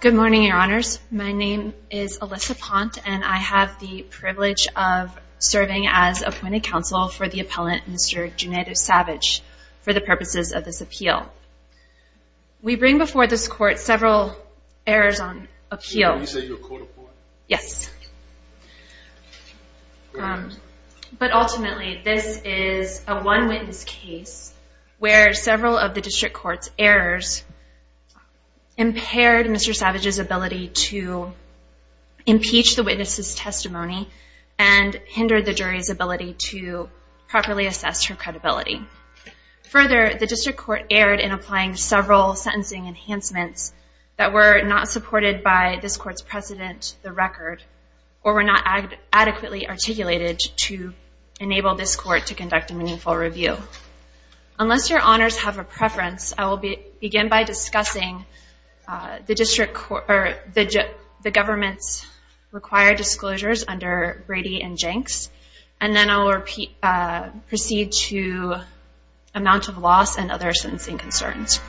Good morning, your honors. My name is Alyssa Ponte and I have the privilege of serving as appointed counsel for the appellant, Mr. Junaidu Savage, for the purposes of this appeal. Now, we bring before this court several errors on appeal. But ultimately, this is a one witness case where several of the district court's errors impaired Mr. Savage's ability to impeach the witness's testimony and hindered the jury's ability to properly assess her credibility. Further, the district court erred in applying several sentencing enhancements that were not supported by this court's precedent, the record, or were not adequately articulated to enable this court to conduct a meaningful review. Unless your honors have a preference, I will begin by discussing the government's required disclosures under Brady and Jenks, and then I will proceed to amount of loss and other sentencing concerns.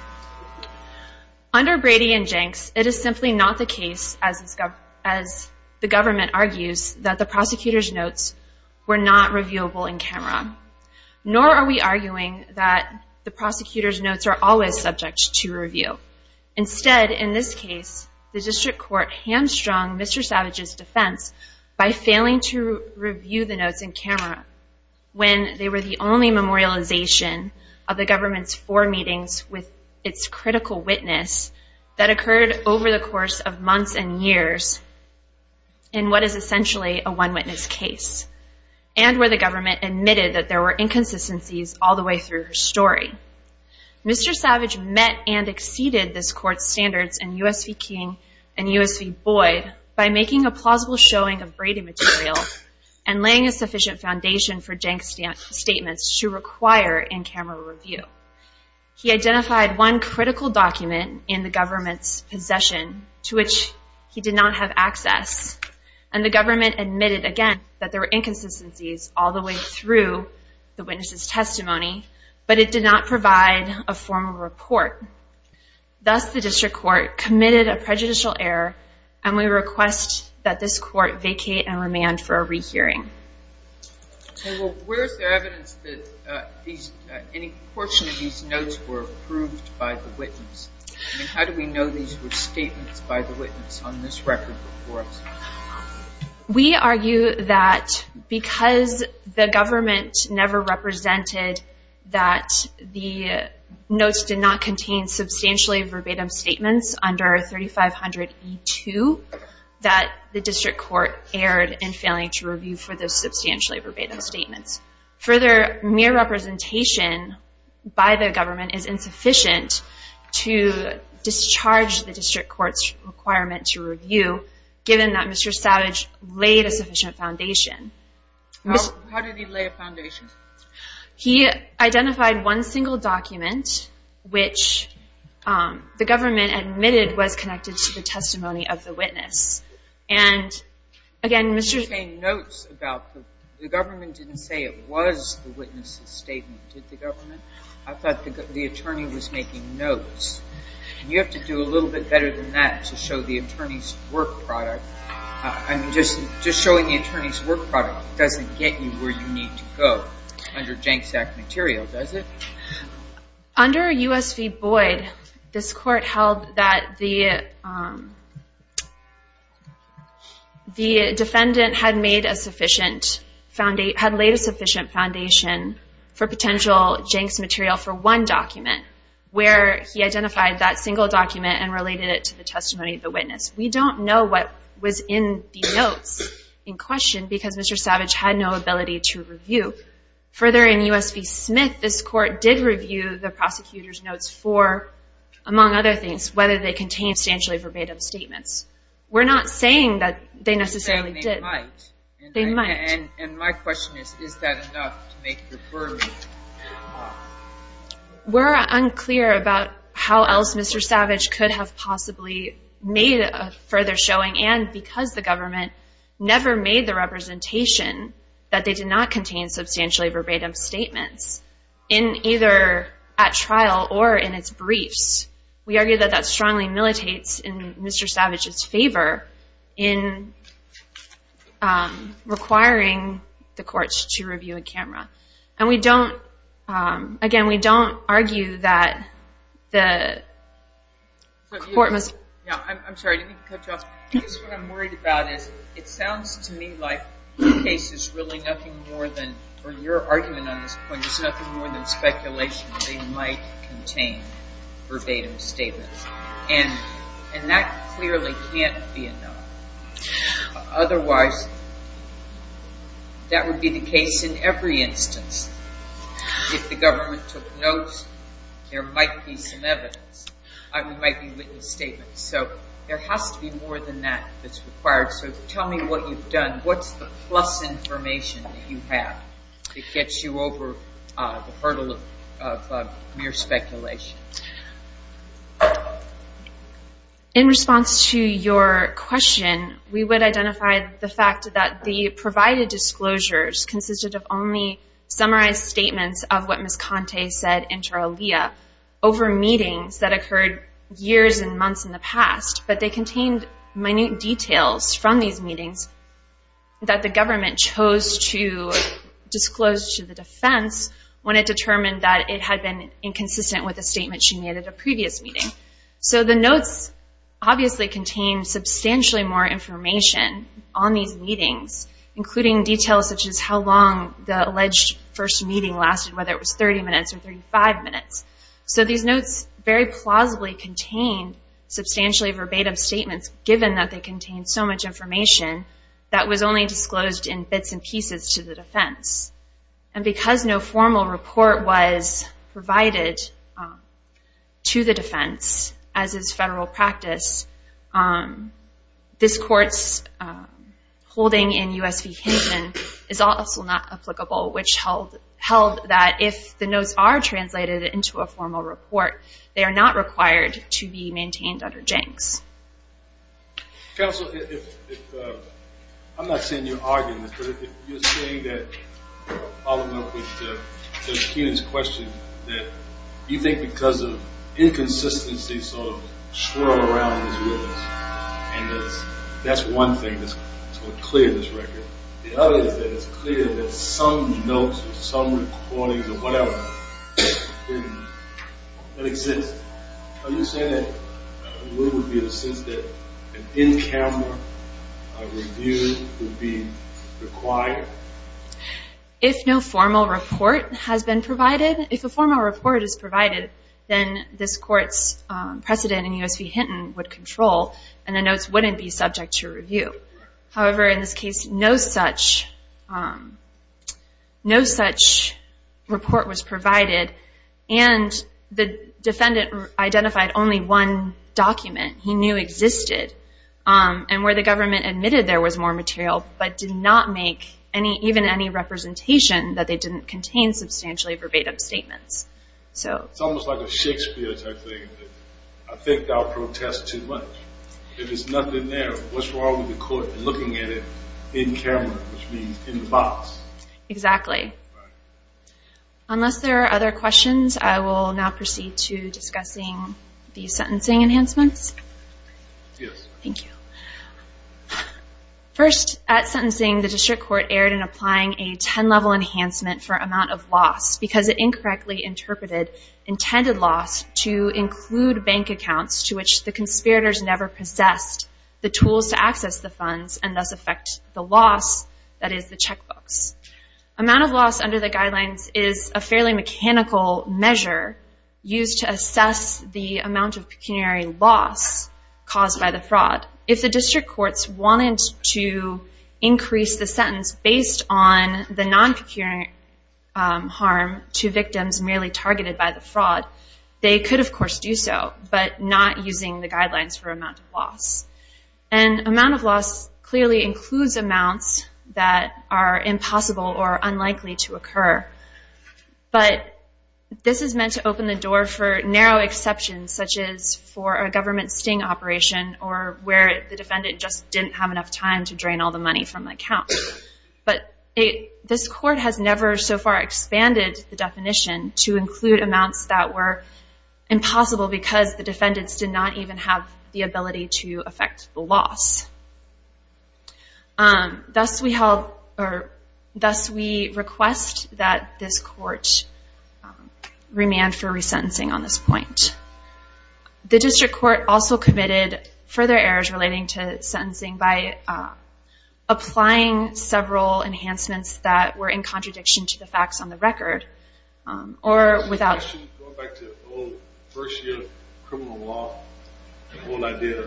Under Brady and Jenks, it is simply not the case, as the government argues, that the prosecutor's notes were not reviewable in camera, nor are we arguing that the prosecutor's notes are always subject to review. Instead, in this case, the district court hamstrung Mr. Savage's defense by failing to review the notes in camera when they were the only memorialization of the government's four meetings with its critical witness that occurred over the course of months and years in what is essentially a one witness case, and where the government admitted that there were inconsistencies all the way through her story. Mr. Savage met and exceeded this court's standards in U.S. v. King and U.S. v. Boyd by making a plausible showing of Brady material and laying a sufficient foundation for Jenks' statements to require in-camera review. He identified one critical document in the government's possession to which he did not have access, and the government admitted again that there were inconsistencies all the way through the witness's testimony, but it did not provide a formal report. Thus, the district court committed a prejudicial error, and we request that this court vacate and remand for a rehearing. Where is there evidence that any portion of these notes were approved by the witness? How do we know these were statements by the witness on this record? We argue that because the government never represented that the notes did not contain substantially verbatim statements under 3500E2, that the district court erred in failing to review for those substantially verbatim statements. Further, mere representation by the government is insufficient to discharge the district court's requirement to review, given that Mr. Savage laid a sufficient foundation. How did he lay a foundation? He identified one single document which the government admitted was connected to the testimony of the witness. Did you say notes? The government didn't say it was the witness's statement, did the government? I thought the attorney was making notes. You have to do a little bit better than that to show the attorney's work product. Just showing the attorney's work product doesn't get you where you need to go under Janx Act material, does it? Under U.S. v. Boyd, this court held that the defendant had laid a sufficient foundation for potential Janx material for one document, where he identified that single document and related it to the testimony of the witness. We don't know what was in the notes in question because Mr. Savage had no ability to review. Further, in U.S. v. Smith, this court did review the prosecutor's notes for, among other things, whether they contained substantially verbatim statements. We're not saying that they necessarily did. They might. They might. And my question is, is that enough to make the verdict? We're unclear about how else Mr. Savage could have possibly made a further showing, and because the government never made the representation that they did not contain substantially verbatim statements, in either at trial or in its briefs. We argue that that strongly militates in Mr. Savage's favor in requiring the courts to review a camera. And we don't, again, we don't argue that the court must. Yeah, I'm sorry. Let me cut you off. Because what I'm worried about is it sounds to me like the case is really nothing more than, or your argument on this point is nothing more than speculation that they might contain verbatim statements. And that clearly can't be enough. Otherwise, that would be the case in every instance. If the government took notes, there might be some evidence. There might be witness statements. So there has to be more than that that's required. So tell me what you've done. What's the plus information that you have that gets you over the hurdle of mere speculation? In response to your question, we would identify the fact that the provided disclosures consisted of only summarized statements of what Ms. Conte said in Tarleah over meetings that occurred years and months in the past. But they contained minute details from these meetings that the government chose to disclose to the defense when it determined that it had been inconsistent with a statement she made at a previous meeting. So the notes obviously contain substantially more information on these meetings, including details such as how long the alleged first meeting lasted, whether it was 30 minutes or 35 minutes. So these notes very plausibly contain substantially verbatim statements, given that they contain so much information that was only disclosed in bits and pieces to the defense. And because no formal report was provided to the defense as is federal practice, this Court's holding in U.S. v. Hinton is also not applicable, which held that if the notes are translated into a formal report, they are not required to be maintained under Jenks. Counsel, I'm not seeing you arguing this, but you're saying that, following up with Ms. Hinton's question, that you think because of inconsistency sort of swirling around in this witness, and that's one thing that's going to clear this record. The other is that it's clear that some notes or some recordings or whatever exist. Are you saying that there would be a sense that an in-camera review would be required? If no formal report has been provided, if a formal report is provided, then this Court's precedent in U.S. v. Hinton would control, and the notes wouldn't be subject to review. However, in this case, no such report was provided, and the defendant identified only one document he knew existed, and where the government admitted there was more material, but did not make even any representation that they didn't contain substantially verbatim statements. It's almost like a Shakespeare type thing. I think thou protest too much. If there's nothing there, what's wrong with the Court looking at it in camera, which means in the box? Exactly. Unless there are other questions, I will now proceed to discussing the sentencing enhancements. First, at sentencing, the District Court erred in applying a 10-level enhancement for amount of loss, because it incorrectly interpreted intended loss to include bank accounts to which the conspirators never possessed the tools to access the funds, and thus affect the loss that is the checkbooks. Amount of loss under the guidelines is a fairly mechanical measure used to assess the amount of pecuniary loss caused by the fraud. If the District Courts wanted to increase the sentence based on the non-pecuniary harm to victims merely targeted by the fraud, they could, of course, do so, but not using the guidelines for amount of loss. And amount of loss clearly includes amounts that are impossible or unlikely to occur. But this is meant to open the door for narrow exceptions, such as for a government sting operation, or where the defendant just didn't have enough time to drain all the money from the account. But this Court has never so far expanded the definition to include amounts that were impossible because the defendants did not even have the ability to affect the loss. Thus, we request that this Court remand for resentencing on this point. The District Court also committed further errors relating to sentencing by applying several enhancements that were in contradiction to the facts on the record. Going back to the first year of criminal law, the whole idea,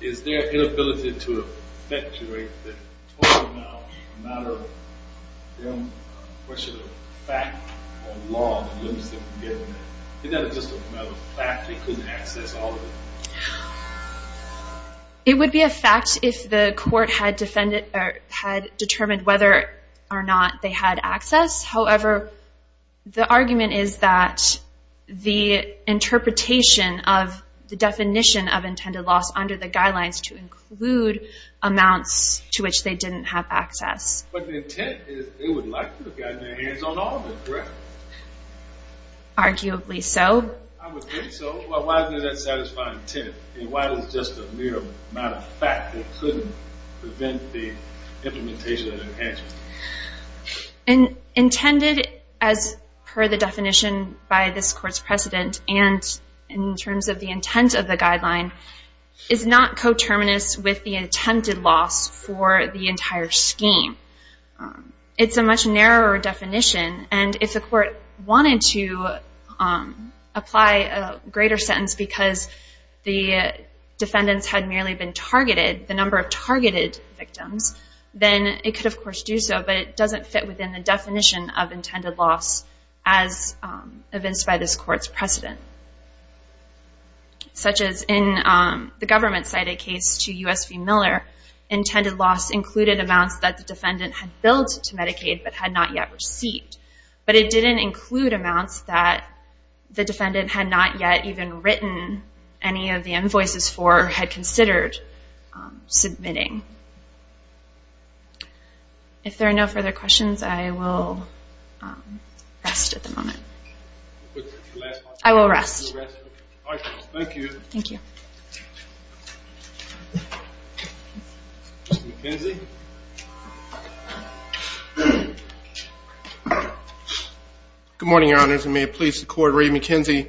is there an inability to effectuate the total amount, no matter the question of fact or law, that limits them from getting there? Is that just a matter of fact they couldn't access all of it? It would be a fact if the Court had determined whether or not they had access. However, the argument is that the interpretation of the definition of intended loss under the guidelines to include amounts to which they didn't have access. But the intent is they would like to have gotten their hands on all of it, correct? Arguably so. I would think so. But why is there that satisfying intent? And why is it just a mere matter of fact they couldn't prevent the implementation of the enhancements? Intended, as per the definition by this Court's precedent, and in terms of the intent of the guideline, is not coterminous with the attempted loss for the entire scheme. It's a much narrower definition, and if the Court wanted to apply a greater sentence because the defendants had merely been targeted, the number of targeted victims, then it could of course do so, but it doesn't fit within the definition of intended loss as evinced by this Court's precedent. Such as in the government-cited case to U.S. v. Miller, intended loss included amounts that the defendant had billed to Medicaid but had not yet received. But it didn't include amounts that the defendant had not yet even written any of the invoices for, or had considered submitting. If there are no further questions, I will rest at the moment. I will rest. Thank you. Thank you. Mr. McKenzie? Good morning, Your Honors, and may it please the Court, Ray McKenzie,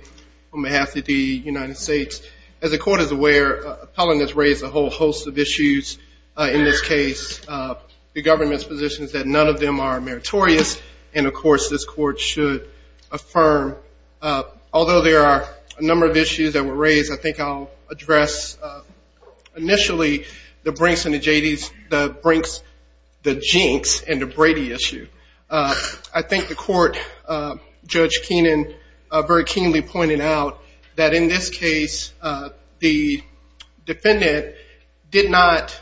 on behalf of the United States. As the Court is aware, appellants raise a whole host of issues in this case. The government's position is that none of them are meritorious, and of course this Court should affirm. Although there are a number of issues that were raised, I think I'll address initially the Brinks and the Jadys, the Brinks, the Jinks, and the Brady issue. I think the Court, Judge Keenan very keenly pointed out that in this case, the defendant did not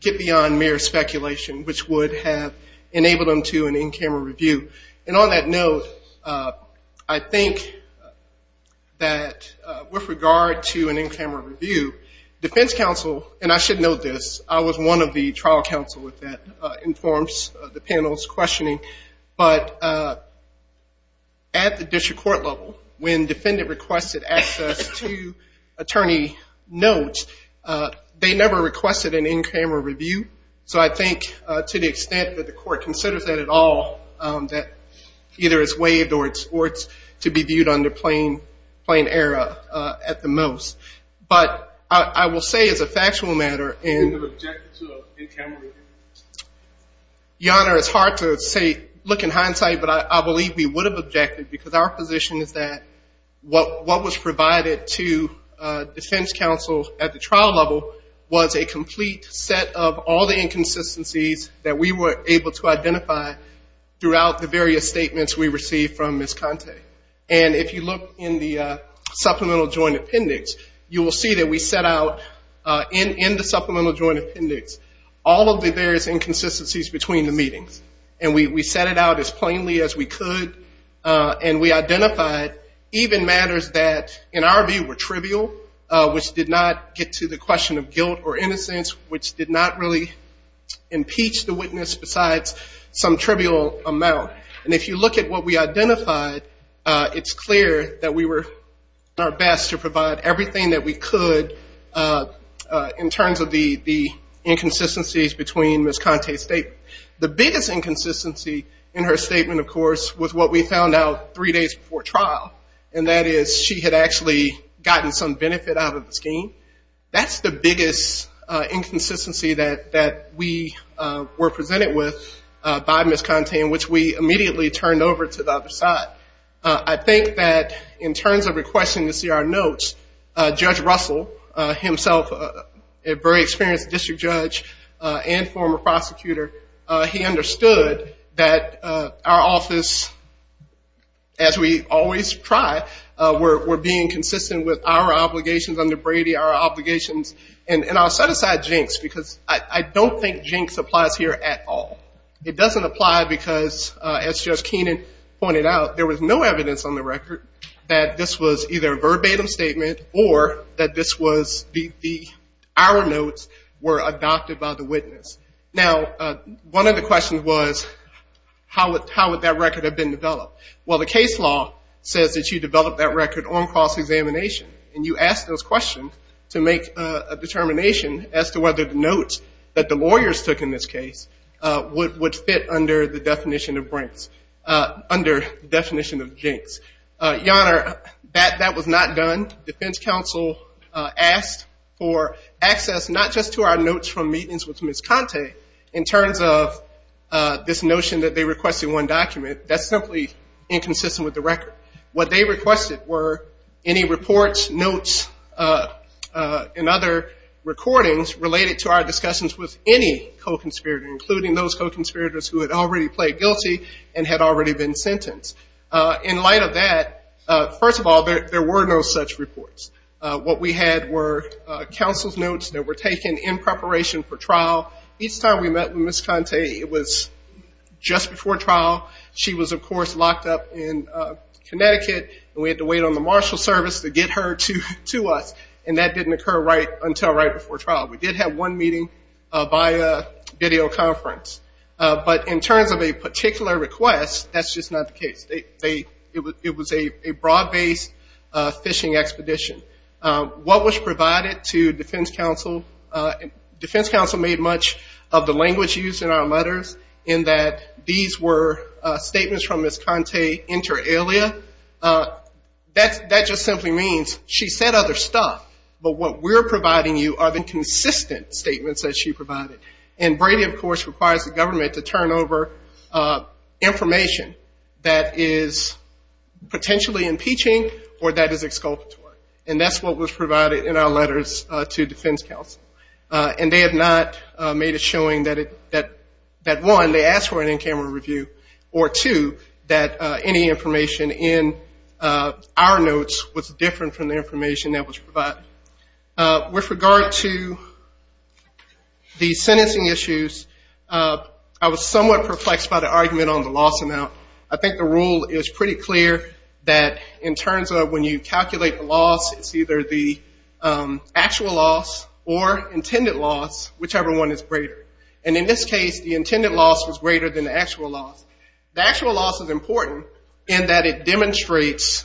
get beyond mere speculation, which would have enabled him to an in-camera review. And on that note, I think that with regard to an in-camera review, defense counsel, and I should note this, I was one of the trial counsel that informs the panel's questioning, but at the district court level, when defendant requested access to attorney notes, they never requested an in-camera review. So I think to the extent that the Court considers that at all, that either it's waived or it's to be viewed under plain error at the most. But I will say as a factual matter, Your Honor, it's hard to say, look in hindsight, but I believe we would have objected because our position is that what was provided to defense counsel at the trial level was a complete set of all the inconsistencies that we were able to identify throughout the various statements we received from Ms. Conte. And if you look in the supplemental joint appendix, you will see that we set out in the supplemental joint appendix all of the various inconsistencies between the meetings. And we set it out as plainly as we could, and we identified even matters that in our view were trivial, which did not get to the question of guilt or innocence, which did not really impeach the witness besides some trivial amount. And if you look at what we identified, it's clear that we were doing our best to provide everything that we could in terms of the inconsistencies between Ms. Conte's statement. The biggest inconsistency in her statement, of course, was what we found out three days before trial, and that is she had actually gotten some benefit out of the scheme. That's the biggest inconsistency that we were presented with by Ms. Conte, which we immediately turned over to the other side. I think that in terms of requesting to see our notes, Judge Russell, himself a very experienced district judge and former prosecutor, he understood that our office, as we always try, were being consistent with our obligations under Brady, our obligations. And I'll set aside Jinx because I don't think Jinx applies here at all. It doesn't apply because, as Judge Keenan pointed out, there was no evidence on the record that this was either a verbatim statement or that our notes were adopted by the witness. Now, one of the questions was, how would that record have been developed? Well, the case law says that you develop that record on cross-examination, and you ask those questions to make a determination as to whether the notes that the lawyers took in this case would fit under the definition of Jinx. Your Honor, that was not done. Defense counsel asked for access not just to our notes from meetings with Ms. Conte, in terms of this notion that they requested one document. That's simply inconsistent with the record. What they requested were any reports, notes, and other recordings related to our discussions with any co-conspirator, including those co-conspirators who had already pled guilty and had already been sentenced. In light of that, first of all, there were no such reports. What we had were counsel's notes that were taken in preparation for trial. Each time we met with Ms. Conte, it was just before trial. She was, of course, locked up in Connecticut, and we had to wait on the marshal service to get her to us, and that didn't occur until right before trial. We did have one meeting via videoconference. But in terms of a particular request, that's just not the case. It was a broad-based fishing expedition. What was provided to defense counsel, defense counsel made much of the language used in our letters, in that these were statements from Ms. Conte inter alia. That just simply means she said other stuff, but what we're providing you are the consistent statements that she provided. And Brady, of course, requires the government to turn over information that is potentially impeaching or that is exculpatory, and that's what was provided in our letters to defense counsel. And they have not made a showing that, one, they asked for an in-camera review, or, two, that any information in our notes was different from the information that was provided. With regard to the sentencing issues, I was somewhat perplexed by the argument on the loss amount. I think the rule is pretty clear that in terms of when you calculate the loss, it's either the actual loss or intended loss, whichever one is greater. And in this case, the intended loss was greater than the actual loss. The actual loss is important in that it demonstrates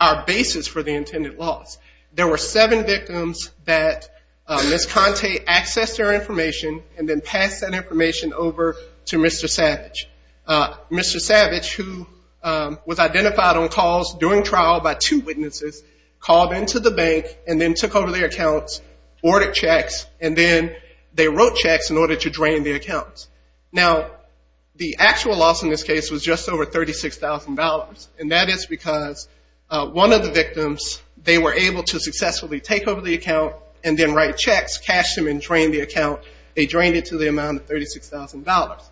our basis for the intended loss. There were seven victims that Ms. Conte accessed their information and then passed that information over to Mr. Savage. Mr. Savage, who was identified on calls during trial by two witnesses, called into the bank and then took over their accounts, ordered checks, and then they wrote checks in order to drain the accounts. Now, the actual loss in this case was just over $36,000, and that is because one of the victims, they were able to successfully take over the account and then write checks, cash them, and drain the account. They drained it to the amount of $36,000.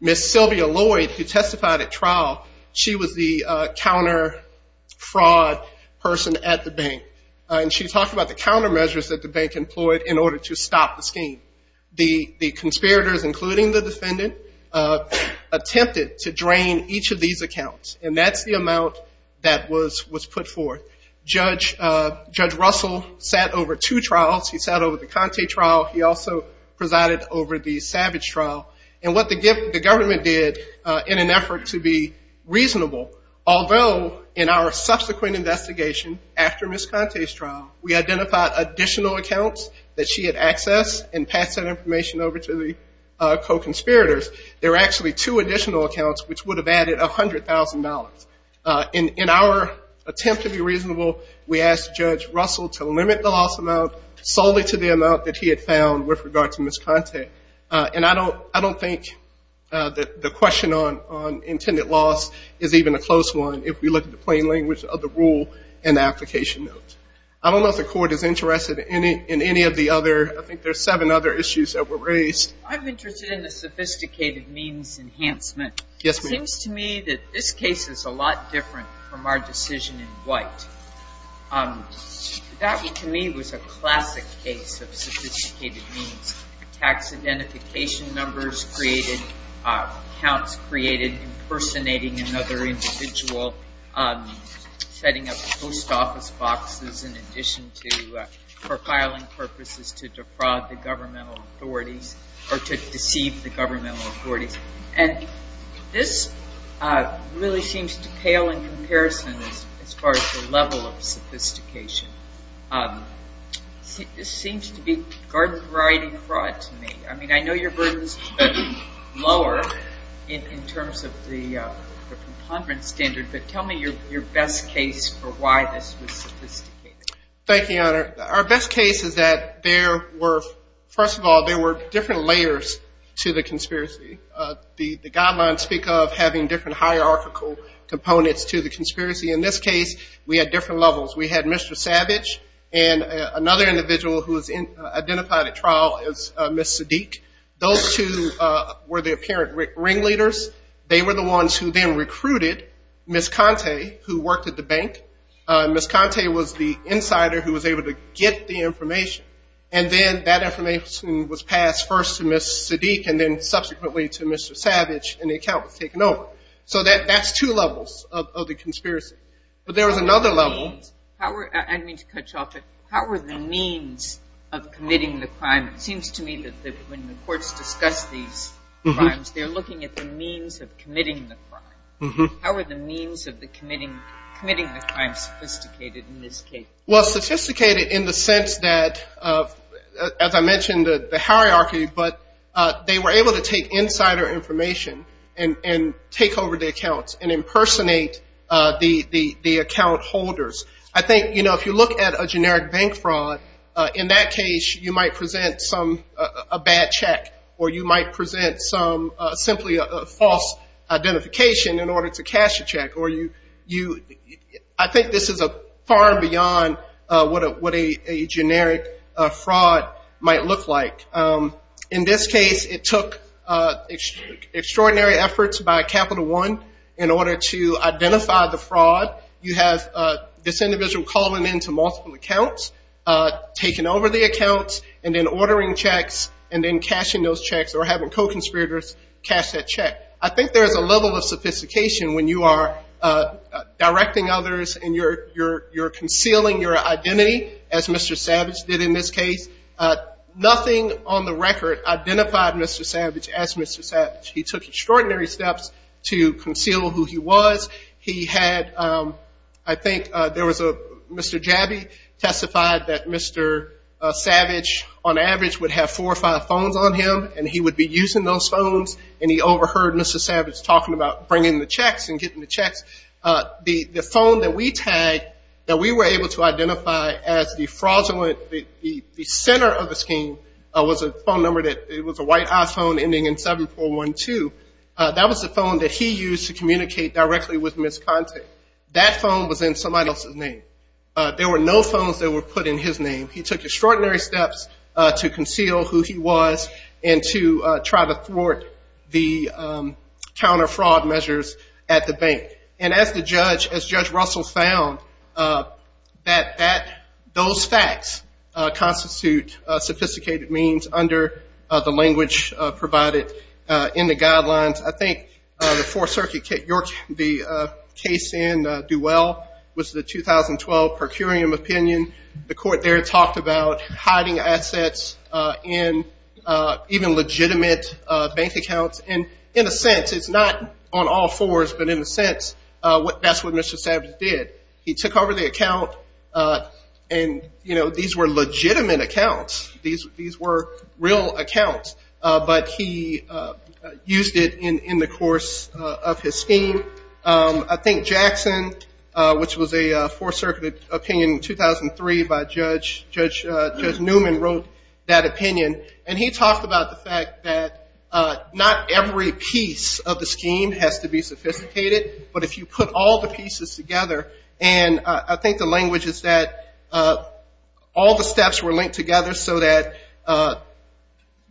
Ms. Sylvia Lloyd, who testified at trial, she was the counter-fraud person at the bank, and she talked about the countermeasures that the bank employed in order to stop the scheme. The conspirators, including the defendant, attempted to drain each of these accounts, and that's the amount that was put forth. Judge Russell sat over two trials. He sat over the Conte trial. He also presided over the Savage trial. And what the government did in an effort to be reasonable, although in our subsequent investigation after Ms. Conte's trial, we identified additional accounts that she had accessed and passed that information over to the co-conspirators. There were actually two additional accounts, which would have added $100,000. In our attempt to be reasonable, we asked Judge Russell to limit the loss amount solely to the amount that he had found with regard to Ms. Conte. And I don't think the question on intended loss is even a close one if we look at the plain language of the rule and the application notes. I don't know if the Court is interested in any of the other – I think there are seven other issues that were raised. I'm interested in the sophisticated means enhancement. Yes, ma'am. It seems to me that this case is a lot different from our decision in White. That, to me, was a classic case of sophisticated means. Tax identification numbers created, accounts created impersonating another individual, setting up post office boxes in addition to – for filing purposes to defraud the governmental authorities or to deceive the governmental authorities. And this really seems to pale in comparison as far as the level of sophistication. This seems to be garden-variety fraud to me. I mean, I know your burden is lower in terms of the preponderance standard, but tell me your best case for why this was sophisticated. Thank you, Your Honor. Our best case is that there were – first of all, there were different layers to the conspiracy. The guidelines speak of having different hierarchical components to the conspiracy. In this case, we had different levels. We had Mr. Savage and another individual who was identified at trial as Ms. Sadiq. Those two were the apparent ringleaders. They were the ones who then recruited Ms. Conte, who worked at the bank. Ms. Conte was the insider who was able to get the information, and then that information was passed first to Ms. Sadiq and then subsequently to Mr. Savage and the account was taken over. So that's two levels of the conspiracy. But there was another level. I didn't mean to cut you off, but how were the means of committing the crime? It seems to me that when the courts discuss these crimes, they're looking at the means of committing the crime. How were the means of committing the crime sophisticated in this case? Well, sophisticated in the sense that, as I mentioned, the hierarchy, but they were able to take insider information and take over the accounts and impersonate the account holders. I think if you look at a generic bank fraud, in that case you might present a bad check or you might present simply a false identification in order to cash a check. I think this is far beyond what a generic fraud might look like. In this case, it took extraordinary efforts by Capital One in order to identify the fraud. You have this individual calling into multiple accounts, taking over the accounts, and then ordering checks and then cashing those checks or having co-conspirators cash that check. I think there is a level of sophistication when you are directing others and you're concealing your identity, as Mr. Savage did in this case. Nothing on the record identified Mr. Savage as Mr. Savage. He took extraordinary steps to conceal who he was. He had, I think there was a Mr. Jabby testified that Mr. Savage, on average, would have four or five phones on him and he would be using those phones, and he overheard Mr. Savage talking about bringing the checks and getting the checks. The phone that we tagged that we were able to identify as the fraudulent, the center of the scheme was a phone number that was a white iPhone ending in 7412. That was the phone that he used to communicate directly with Ms. Conte. That phone was in somebody else's name. There were no phones that were put in his name. He took extraordinary steps to conceal who he was and to try to thwart the counter-fraud measures at the bank. And as Judge Russell found, those facts constitute sophisticated means under the language provided in the guidelines. I think the Fourth Circuit case in Duell was the 2012 per curiam opinion. The court there talked about hiding assets in even legitimate bank accounts. And in a sense, it's not on all fours, but in a sense, that's what Mr. Savage did. He took over the account and, you know, these were legitimate accounts. These were real accounts, but he used it in the course of his scheme. I think Jackson, which was a Fourth Circuit opinion in 2003 by Judge Newman, wrote that opinion. And he talked about the fact that not every piece of the scheme has to be sophisticated, but if you put all the pieces together, and I think the language is that all the steps were linked together so that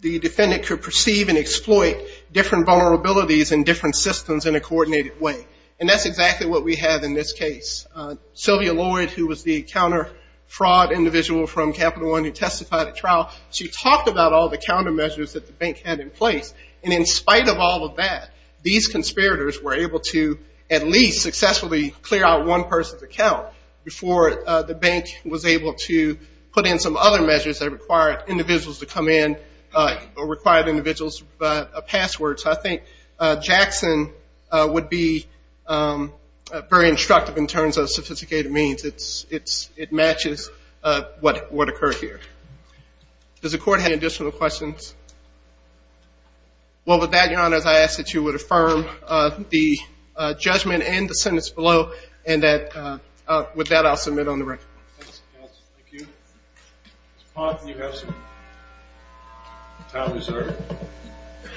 the defendant could perceive and exploit different vulnerabilities and different systems in a coordinated way. And that's exactly what we have in this case. Sylvia Lloyd, who was the counter-fraud individual from Capital One who testified at trial, she talked about all the countermeasures that the bank had in place. And in spite of all of that, these conspirators were able to at least successfully clear out one person's account before the bank was able to put in some other measures that required individuals to come in or required individuals' passwords. I think Jackson would be very instructive in terms of sophisticated means. It matches what occurred here. Does the Court have additional questions? Well, with that, Your Honors, I ask that you would affirm the judgment and the sentence below and that with that I'll submit on the record. Thank you. Ms. Potts, you have some time reserved. Thank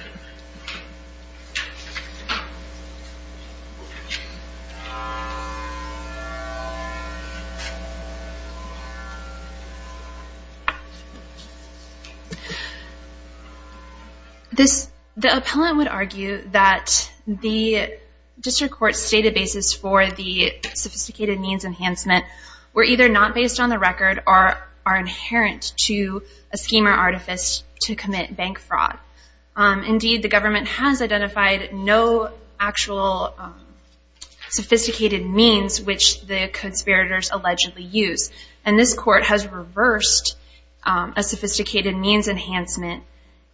you. The appellant would argue that the District Court's databases for the sophisticated means enhancement were either not based on the record or are inherent to a scheme or artifice to commit bank fraud. Indeed, the government has identified no actual sophisticated means which the conspirators allegedly use. And this Court has reversed a sophisticated means enhancement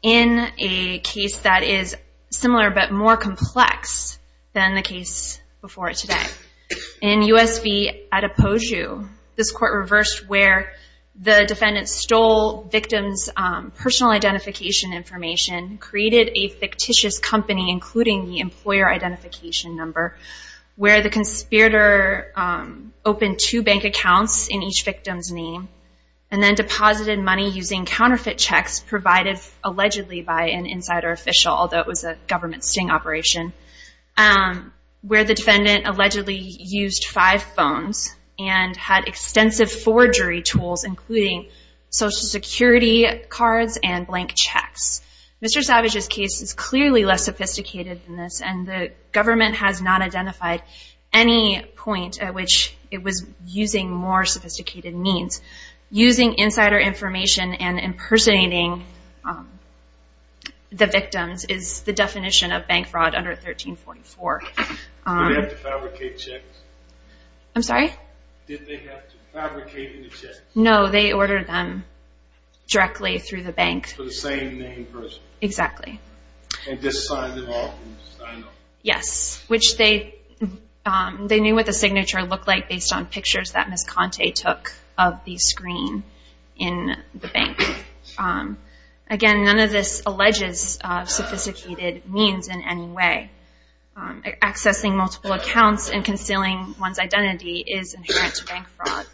in a case that is similar but more complex than the case before today. In U.S. v. Adepoju, this Court reversed where the defendant stole victim's personal identification information, created a fictitious company, including the employer identification number, where the conspirator opened two bank accounts in each victim's name and then deposited money using counterfeit checks provided allegedly by an insider official, although it was a government sting operation, where the defendant allegedly used five phones and had extensive forgery tools, including Social Security cards and blank checks. Mr. Savage's case is clearly less sophisticated than this, and the government has not identified any point at which it was using more sophisticated means. Using insider information and impersonating the victims is the definition of bank fraud under 1344. Did they have to fabricate checks? I'm sorry? Did they have to fabricate any checks? No, they ordered them directly through the bank. For the same name and person? Exactly. And just signed them off? Yes, which they knew what the signature looked like based on pictures that Ms. Conte took of the screen in the bank. Again, none of this alleges sophisticated means in any way. Accessing multiple accounts and concealing one's identity is inherent to bank fraud.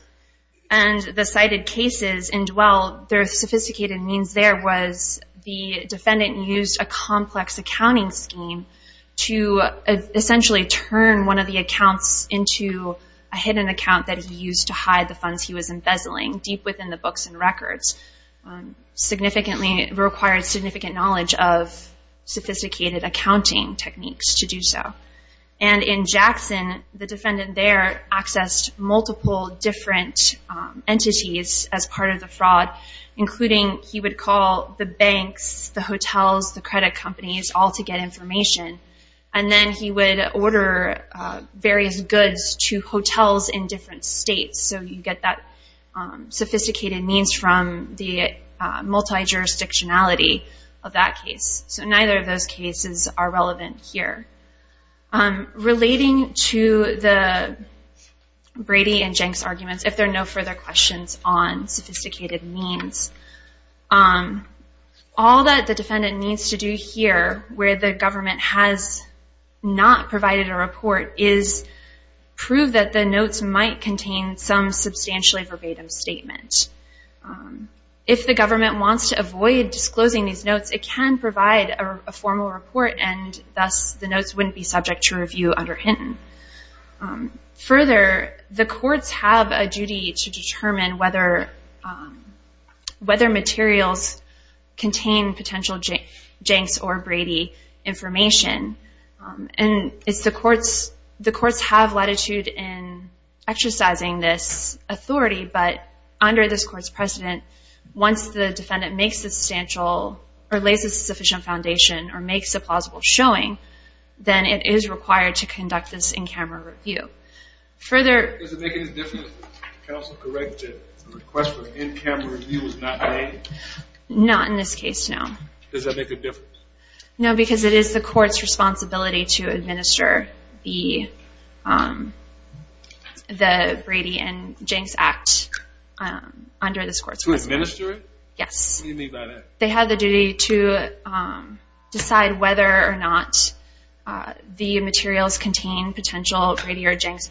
And the cited cases in Dwell, their sophisticated means there was the defendant used a complex accounting scheme to essentially turn one of the accounts into a hidden account that he used to hide the funds he was embezzling, deep within the books and records. Significantly required significant knowledge of sophisticated accounting techniques to do so. And in Jackson, the defendant there accessed multiple different entities as part of the fraud, including he would call the banks, the hotels, the credit companies, all to get information. And then he would order various goods to hotels in different states. So you get that sophisticated means from the multi-jurisdictionality of that case. So neither of those cases are relevant here. Relating to the Brady and Jenks arguments, if there are no further questions on sophisticated means, all that the defendant needs to do here where the government has not provided a report is prove that the notes might contain some substantially verbatim statement. If the government wants to avoid disclosing these notes, it can provide a formal report and thus the notes wouldn't be subject to review under Hinton. Further, the courts have a duty to determine whether materials contain potential Jenks or Brady information. And the courts have latitude in exercising this authority, but under this court's precedent, once the defendant makes a substantial, or lays a sufficient foundation, or makes a plausible showing, then it is required to conduct this in-camera review. Further... Does it make any difference if the counsel corrects it if the request for an in-camera review is not made? Not in this case, no. Does that make a difference? No, because it is the court's responsibility to administer the Brady and Jenks Act under this court's precedent. To administer it? Yes. What do you mean by that? They have the duty to decide whether or not the materials contain potential Brady or Jenks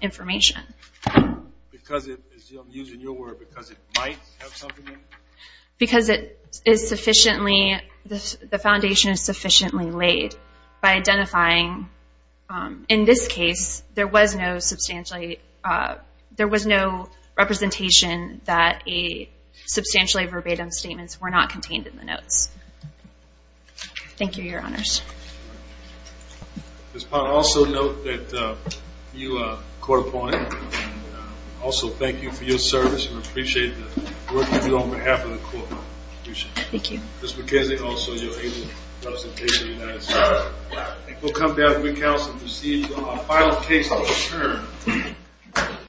information. Because it, as I'm using your word, because it might have something in it? Because it is sufficiently, the foundation is sufficiently laid by identifying, in this case, there was no substantially, there was no representation that a substantially verbatim statement were not contained in the notes. Thank you, Your Honors. Ms. Potter, also note that you are a court opponent. Also, thank you for your service, and I appreciate the work you do on behalf of the court. Thank you. Ms. McKenzie, also, you're able to represent the United States. Thank you. We'll come back with counsel to proceed to our final case of the term.